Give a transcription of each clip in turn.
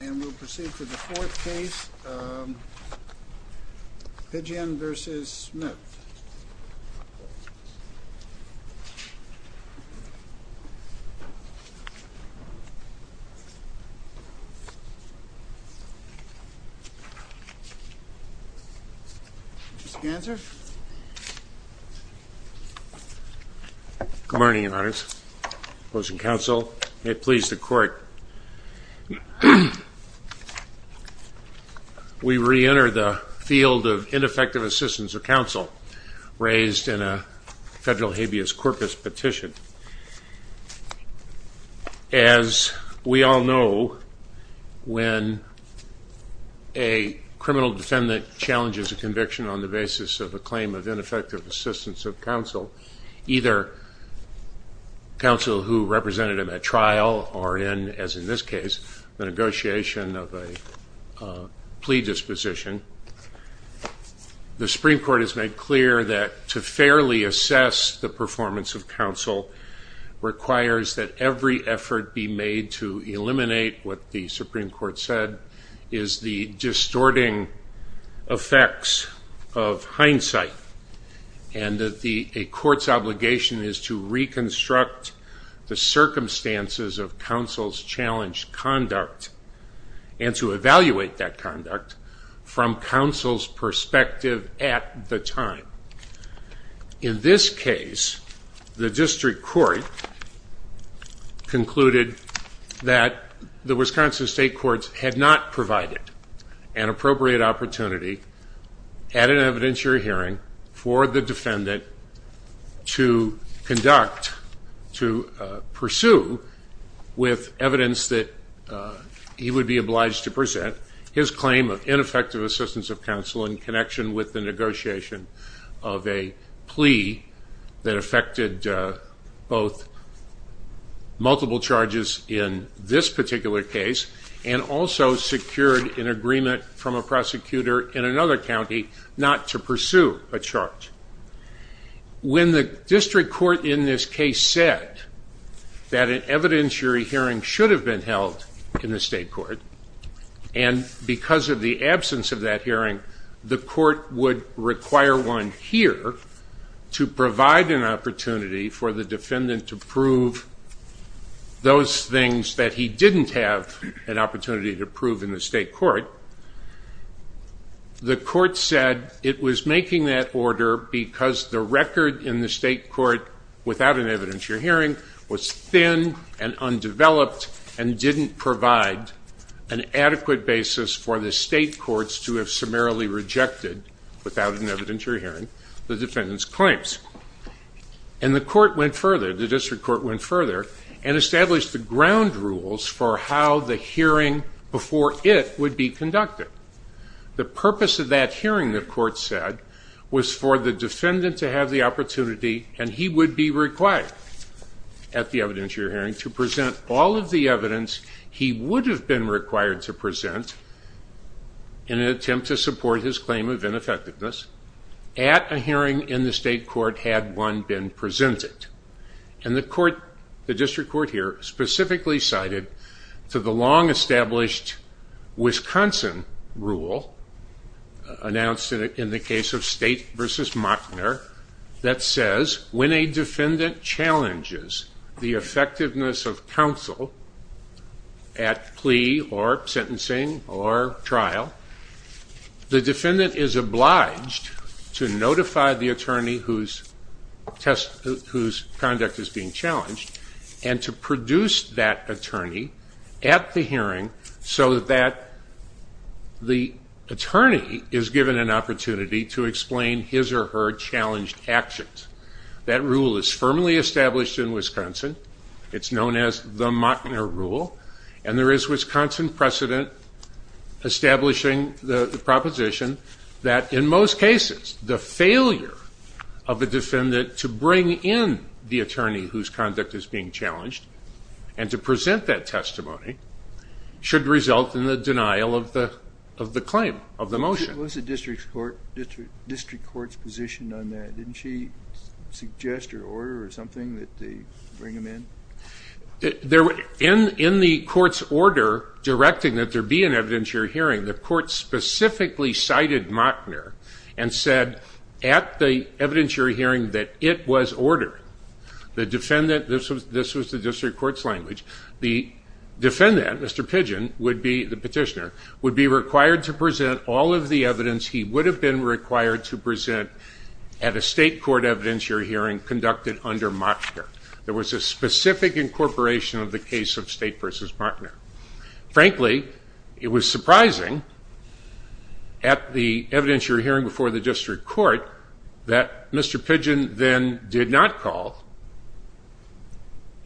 And we'll proceed to the fourth case, Pidgeon v. Smith. Mr. Spencer. Good morning, Your Honor. Opposing counsel, may it please the court, we reenter the field of ineffective assistance of counsel raised in a federal habeas corpus petition. As we all know, when a criminal defendant challenges a conviction on the basis of a claim of ineffective assistance of counsel, either counsel who represented him at trial or in, as in this case, the negotiation of a plea disposition, the Supreme Court has made clear that to fairly eliminate what the Supreme Court said is the distorting effects of hindsight. And that a court's obligation is to reconstruct the circumstances of counsel's challenged conduct and to evaluate that conduct from counsel's perspective at the time. In this case, the Wisconsin State Courts had not provided an appropriate opportunity at an evidentiary hearing for the defendant to conduct, to pursue, with evidence that he would be obliged to present his claim of ineffective assistance of counsel in connection with the negotiation of a plea that affected both multiple charges in this particular case and also secured an agreement from a prosecutor in another county not to pursue a charge. When the district court in this case said that an evidentiary hearing should have been held in the state court, and because of the absence of that hearing, the court would require one here to provide an opportunity for the defendant to prove those things that he didn't have an opportunity to prove in the state court, the court said it was making that order because the record in the state court, without an evidentiary hearing, was thin and undeveloped and didn't provide an adequate basis for the state courts to have summarily rejected, without an evidentiary hearing, the defendant's claims. And the court went further, the district court went further, and established the ground rules for how the hearing before it would be conducted. The purpose of that hearing, the court said, was for the defendant to have the opportunity and he would be required at the evidentiary hearing to present all of the evidence he would have been required to present in an attempt to support his claim of ineffectiveness at a hearing in the state court had one been presented. And the court, the district court here, specifically cited to the long-established Wisconsin rule announced in the case of State v. Machner that says when a defendant challenges the effectiveness of counsel at plea or sentencing or trial, the defendant is obliged to notify the attorney whose conduct is being challenged and to produce that attorney at the hearing so that the attorney is given an opportunity to explain his or her challenged actions. That rule is firmly established in Wisconsin. It's known as the Machner rule. And there is Wisconsin precedent establishing the proposition that in most cases, the failure of a defendant to bring in the attorney whose conduct is being challenged and to present that testimony should result in the denial of the claim, of the motion. Was the district court's position on that? Didn't she suggest her order or something that they bring him in? In the court's order directing that there be an evidentiary hearing, the court specifically cited Machner and said at the evidentiary hearing that it was order. The defendant, this was the district court's language, the defendant, Mr. Pidgeon, would be the petitioner, would be required to present all of the evidence he would have been required to present at a state court evidentiary hearing conducted under Machner. There was a specific incorporation of the case of state versus Machner. Frankly, it was surprising at the evidentiary hearing before the district court that Mr. Pidgeon then did not call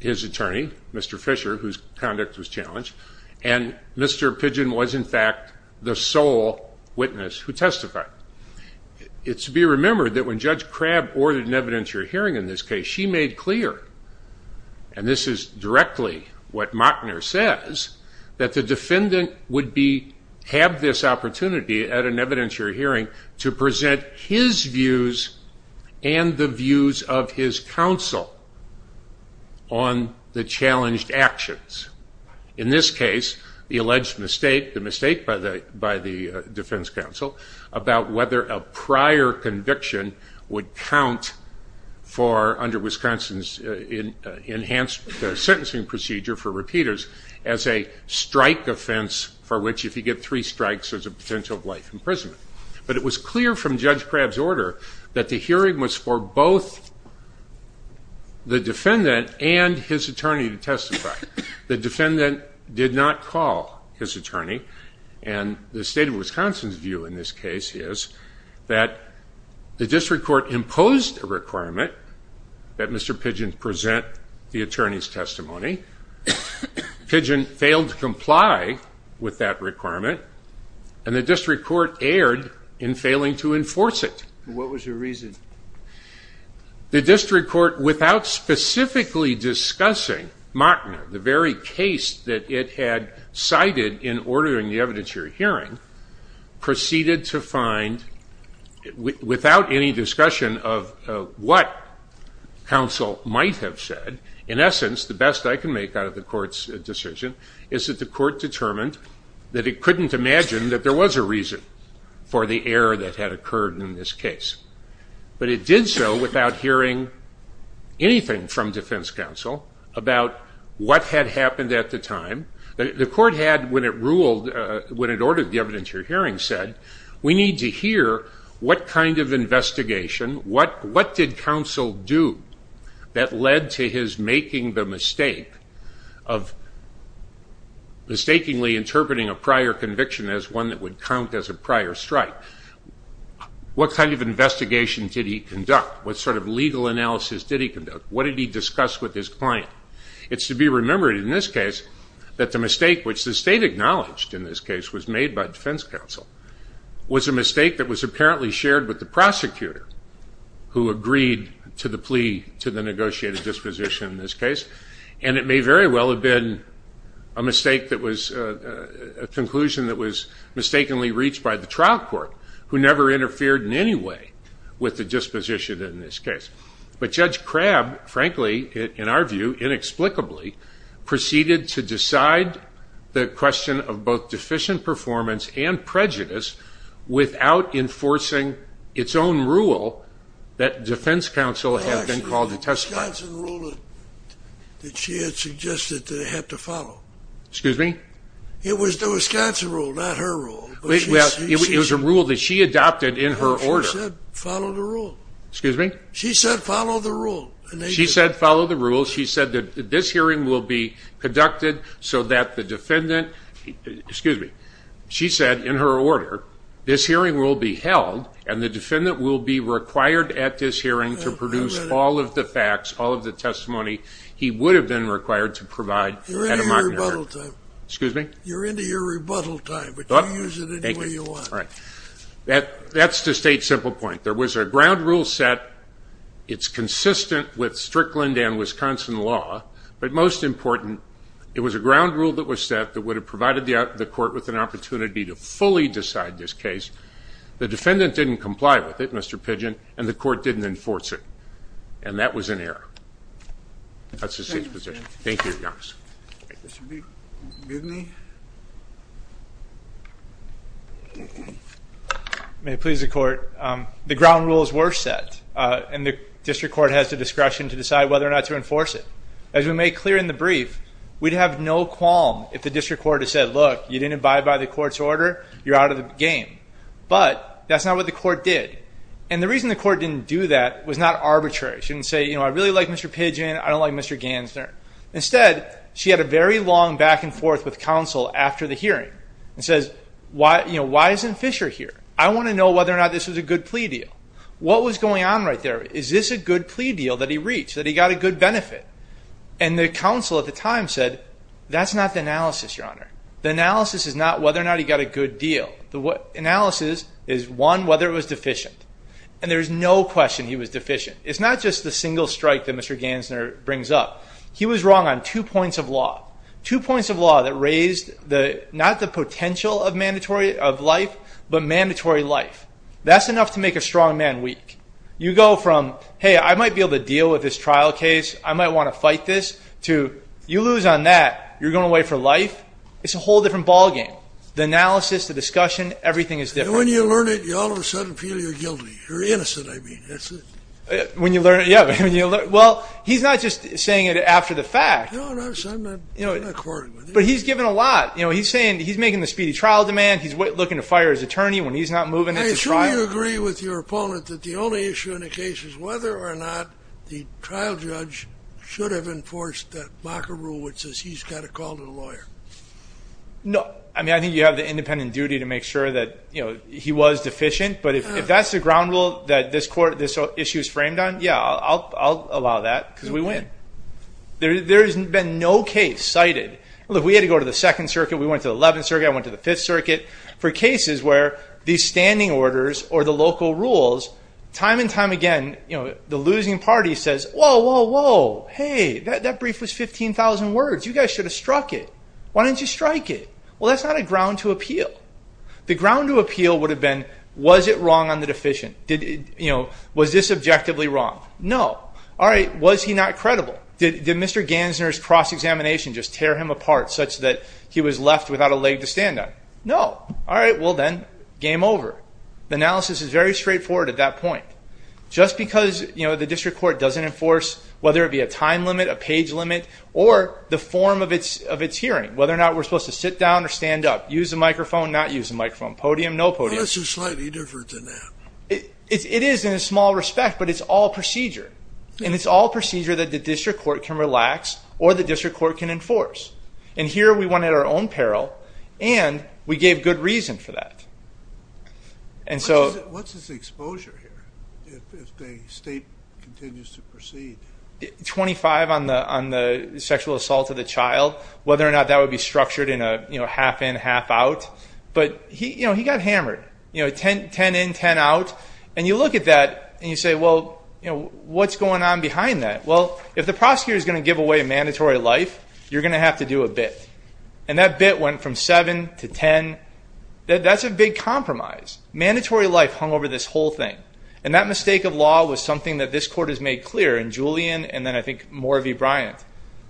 his attorney, Mr. Fisher, whose conduct was challenged, and Mr. Pidgeon was in fact the sole witness who testified. It should be remembered that when Judge Crabb ordered an evidentiary hearing in this case, she made clear, and this is directly what Machner says, that the defendant would have this opportunity at an evidentiary hearing to present his views and the views of his counsel on the challenged actions. In this case, the alleged mistake, the mistake by the defense counsel about whether a prior conviction would count for, under Wisconsin's enhanced sentencing procedure for repeaters, as a strike offense for which if you get three strikes there's a potential of life imprisonment. But it was clear from Judge Crabb's order that the hearing was for both the defendant and his attorney to testify. The defendant did not call his attorney, and the state of Wisconsin's view in this case is that the district court imposed a requirement that Mr. Pidgeon present the attorney's testimony. Pidgeon failed to comply with that requirement, and the district court erred in failing to enforce it. What was your reason? The district court, without specifically discussing Machner, the very case that it had cited in ordering the evidentiary hearing, proceeded to find, without any discussion of what counsel might have said, in essence, the best I can make out of the court's decision, is that the court determined that it couldn't imagine that there was a reason for the error that had occurred in this case. But it did so without hearing anything from defense counsel about what had happened at the time. The court had, when it ordered the evidentiary hearing, said, we need to hear what kind of investigation, what did counsel do that led to his making the mistake of mistakenly interpreting a prior conviction as one that would count as a prior strike? What kind of investigation did he conduct? What sort of legal analysis did he conduct? What did he discuss with his client? It's to be remembered in this case that the mistake, which the state acknowledged in this case, was made by defense counsel, was a mistake that was apparently shared with the prosecutor who agreed to the plea to the case. And it may very well have been a mistake that was, a conclusion that was mistakenly reached by the trial court, who never interfered in any way with the disposition in this case. But Judge Crabb, frankly, in our view, inexplicably, proceeded to decide the question of both deficient performance and prejudice without enforcing its own rule that defense counsel had been called to testify. Excuse me? It was the Wisconsin rule, not her rule. It was a rule that she adopted in her order. She said follow the rule. She said follow the rule. She said that this hearing will be conducted so that the defendant, excuse me, she said in her order, this hearing will be held and the defendant will be required at this hearing to produce all of the facts, all of the testimony he would have been required to provide at a mock hearing. You're into your rebuttal time, but you can use it any way you want. That's the state's simple point. There was a ground rule set. It's consistent with Strickland and Wisconsin law, but most important, it was a ground rule that was set that would have provided the court with an opportunity to fully decide this case. The defendant didn't comply with it, Mr. Pidgeon, and the court didn't enforce it. And that was an error. That's the state's position. Thank you, Your Honor. Mr. Bidney? May it please the court, the ground rules were set, and the district court has the discretion to decide whether or not to enforce it. As we made clear in the brief, we'd have no qualm if the district court had said, look, you didn't abide by the court's order, you're out of the game. But that's not what the court did. And the reason the court didn't do that was not arbitrary. She didn't say, you know, I really like Mr. Pidgeon, I don't like Mr. Gansner. Instead, she had a very long back and forth with counsel after the hearing, and says, you know, why isn't Fisher here? I want to know whether or not this was a good plea deal. What was going on right there? Is this a good plea deal that he reached, that he got a good benefit? And the counsel at the time said, that's not the analysis, Your Honor. The analysis is not whether or not it was deficient. And there's no question he was deficient. It's not just the single strike that Mr. Gansner brings up. He was wrong on two points of law. Two points of law that raised not the potential of life, but mandatory life. That's enough to make a strong man weak. You go from, hey, I might be able to deal with this trial case, I might want to fight this, to you lose on that, you're going away for life. It's a whole different ball game. The analysis, the discussion, everything is different. And when you learn it, you all of a sudden feel you're guilty. You're innocent, I mean. When you learn it, yeah. Well, he's not just saying it after the fact. No, I'm not in accord with it. But he's given a lot. He's making the speedy trial demand. He's looking to fire his attorney when he's not moving into trial. I assume you agree with your opponent that the only issue in the case is whether or not the trial judge should have enforced that Mocker Rule, which says he's got to call the lawyer. No. I mean, I think you have the independent duty to make sure that he was deficient. But if that's the ground rule that this issue is framed on, yeah, I'll allow that because we win. There's been no case cited. Look, we had to go to the Second Circuit, we went to the Eleventh Circuit, I went to the Fifth Circuit for cases where these standing orders or the local rules, time and time again, the losing party says, whoa, whoa, whoa, hey, that brief was 15,000 words. You guys should have struck it. Why didn't you strike it? Well, that's not a ground to appeal. The ground to appeal would have been, was it wrong on the deficient? Was this objectively wrong? No. All right, was he not credible? Did Mr. Gansner's cross-examination just tear him apart such that he was left without a leg to stand on? No. All right, well then, game over. The analysis is very straightforward at that point. Just because the district court doesn't enforce, whether it be a time limit or a page limit or the form of its hearing, whether or not we're supposed to sit down or stand up, use a microphone, not use a microphone, podium, no podium. Well, that's just slightly different than that. It is in a small respect, but it's all procedure. And it's all procedure that the district court can relax or the district court can enforce. And here, we went at our own peril and we gave good reason for that. And so... What's his exposure here if the case continues to proceed? 25 on the sexual assault of the child, whether or not that would be structured in a half in, half out. But he got hammered. 10 in, 10 out. And you look at that and you say, well, what's going on behind that? Well, if the prosecutor's going to give away a mandatory life, you're going to have to do a bit. And that bit went from 7 to 10. That's a big compromise. Mandatory life hung over this whole thing. And that this court has made clear in Julian and then I think more of E. Bryant.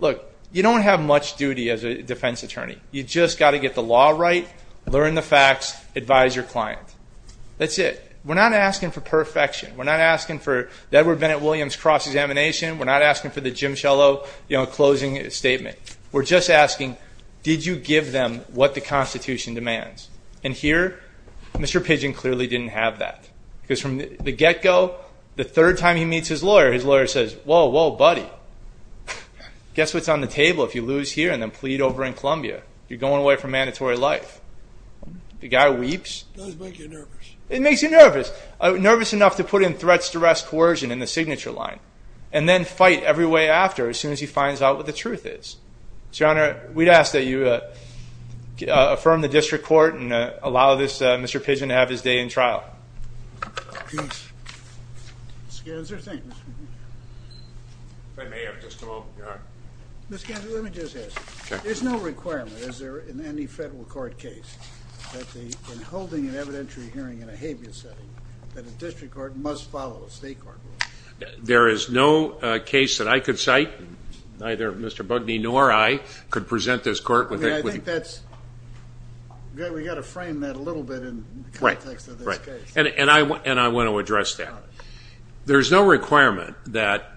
Look, you don't have much duty as a defense attorney. You just got to get the law right, learn the facts, advise your client. That's it. We're not asking for perfection. We're not asking for the Edward Bennett Williams cross-examination. We're not asking for the Jim Schillow closing statement. We're just asking, did you give them what the Constitution demands? And here, Mr. Pidgeon clearly didn't have that. Because from the get-go, the third time he meets his lawyer, his lawyer says, whoa, whoa, buddy. Guess what's on the table if you lose here and then plead over in Columbia? You're going away for mandatory life. The guy weeps. It does make you nervous. It makes you nervous. Nervous enough to put in threats, duress, coercion in the signature line. And then fight every way after as soon as he finds out what the truth is. So, Your Honor, Mr. Pidgeon, are they in trial? Yes. Mr. Ganser, thank you, Mr. Pidgeon. If I may have just a moment, Your Honor. Mr. Ganser, let me just ask you. There's no requirement, is there, in any federal court case, that in holding an evidentiary hearing in a habeas setting, that a district court must follow a state court rule? There is no case that I could cite. Neither Mr. Bugney nor I could present this court with it. I mean, I think that's – we've got to frame that a little bit in the context of the Right. I mean, I think that's – we've got to frame that a little bit in the context of the And I want to address that. There's no requirement that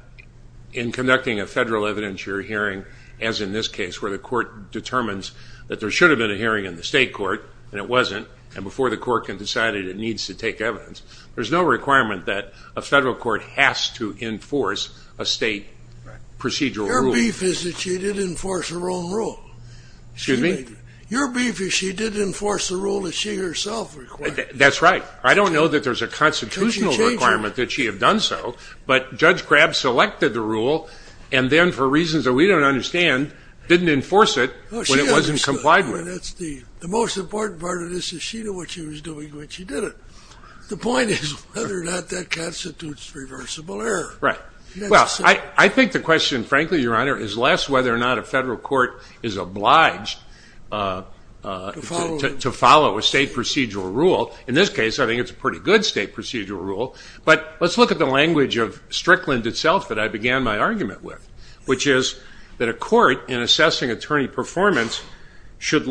in conducting a federal evidentiary hearing, as in this case, where the court determines that there should have been a hearing in the state court, and it wasn't, and before the court can decide it, it needs to take evidence. There's no requirement that a federal court has to enforce a state procedural rule. Your beef is that she did enforce her own rule. Excuse me? Your beef is she did enforce the rule that she herself required. That's right. I don't know that there's a constitutional requirement that she have done so, but Judge Crabb selected the rule and then, for reasons that we don't understand, didn't enforce it when it wasn't complied with. The most important part of this is she knew what she was doing when she did it. The point is whether or not that constitutes reversible error. Right. Well, I think the question, frankly, Your Honor, is less whether or not a federal court is obliged to follow a state procedural rule. In this case, I think it's a pretty good state procedural rule, but let's look at the language of Strickland itself that I began my argument with, which is that a court, in assessing attorney performance, should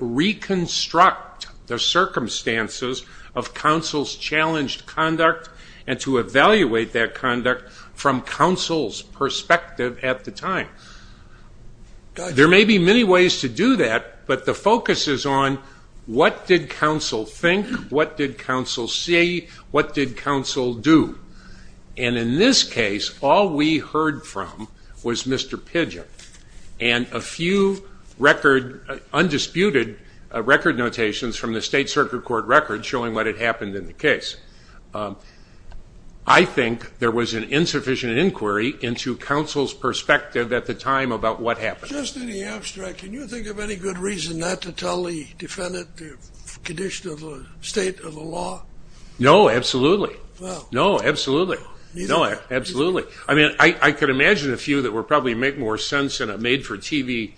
reconstruct the circumstances of counsel's challenged conduct and to evaluate that conduct from counsel's perspective at the time. There may be many ways to do that, but the focus is on what did counsel think? What did counsel see? What did counsel do? And in this case, all we heard from was Mr. Pidgett and a few undisputed record notations from the state circuit court record showing what had happened in the case. I think there was an insufficient inquiry into counsel's perspective at the time about what happened. Just in the abstract, can you think of any good reason not to tell the defendant the condition of the state of the law? No, absolutely. No, absolutely. No, absolutely. I mean, I could imagine a few that would probably make more sense in a made-for-TV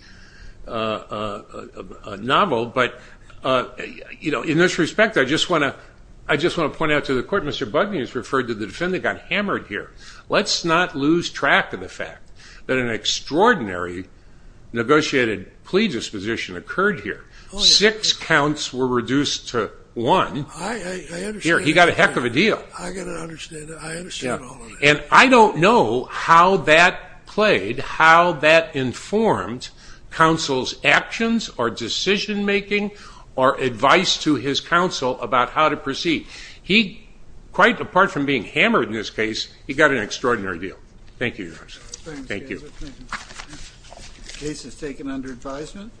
novel, but in this respect, I just want to point out to the court, Mr. Bugney has referred to the defendant got hammered here. Let's not lose track of the fact that an extraordinary negotiated plea disposition occurred here. Six counts were reduced to one. Here, he got a heck of a deal. I got to understand that. I understand all of that. And I don't know how that played, how that informed counsel's actions or decision-making or advice to his counsel about how to proceed. He, quite apart from being hammered in this case, he got an extraordinary deal. Thank you, Your Honor. Thank you. The case is taken under advisement.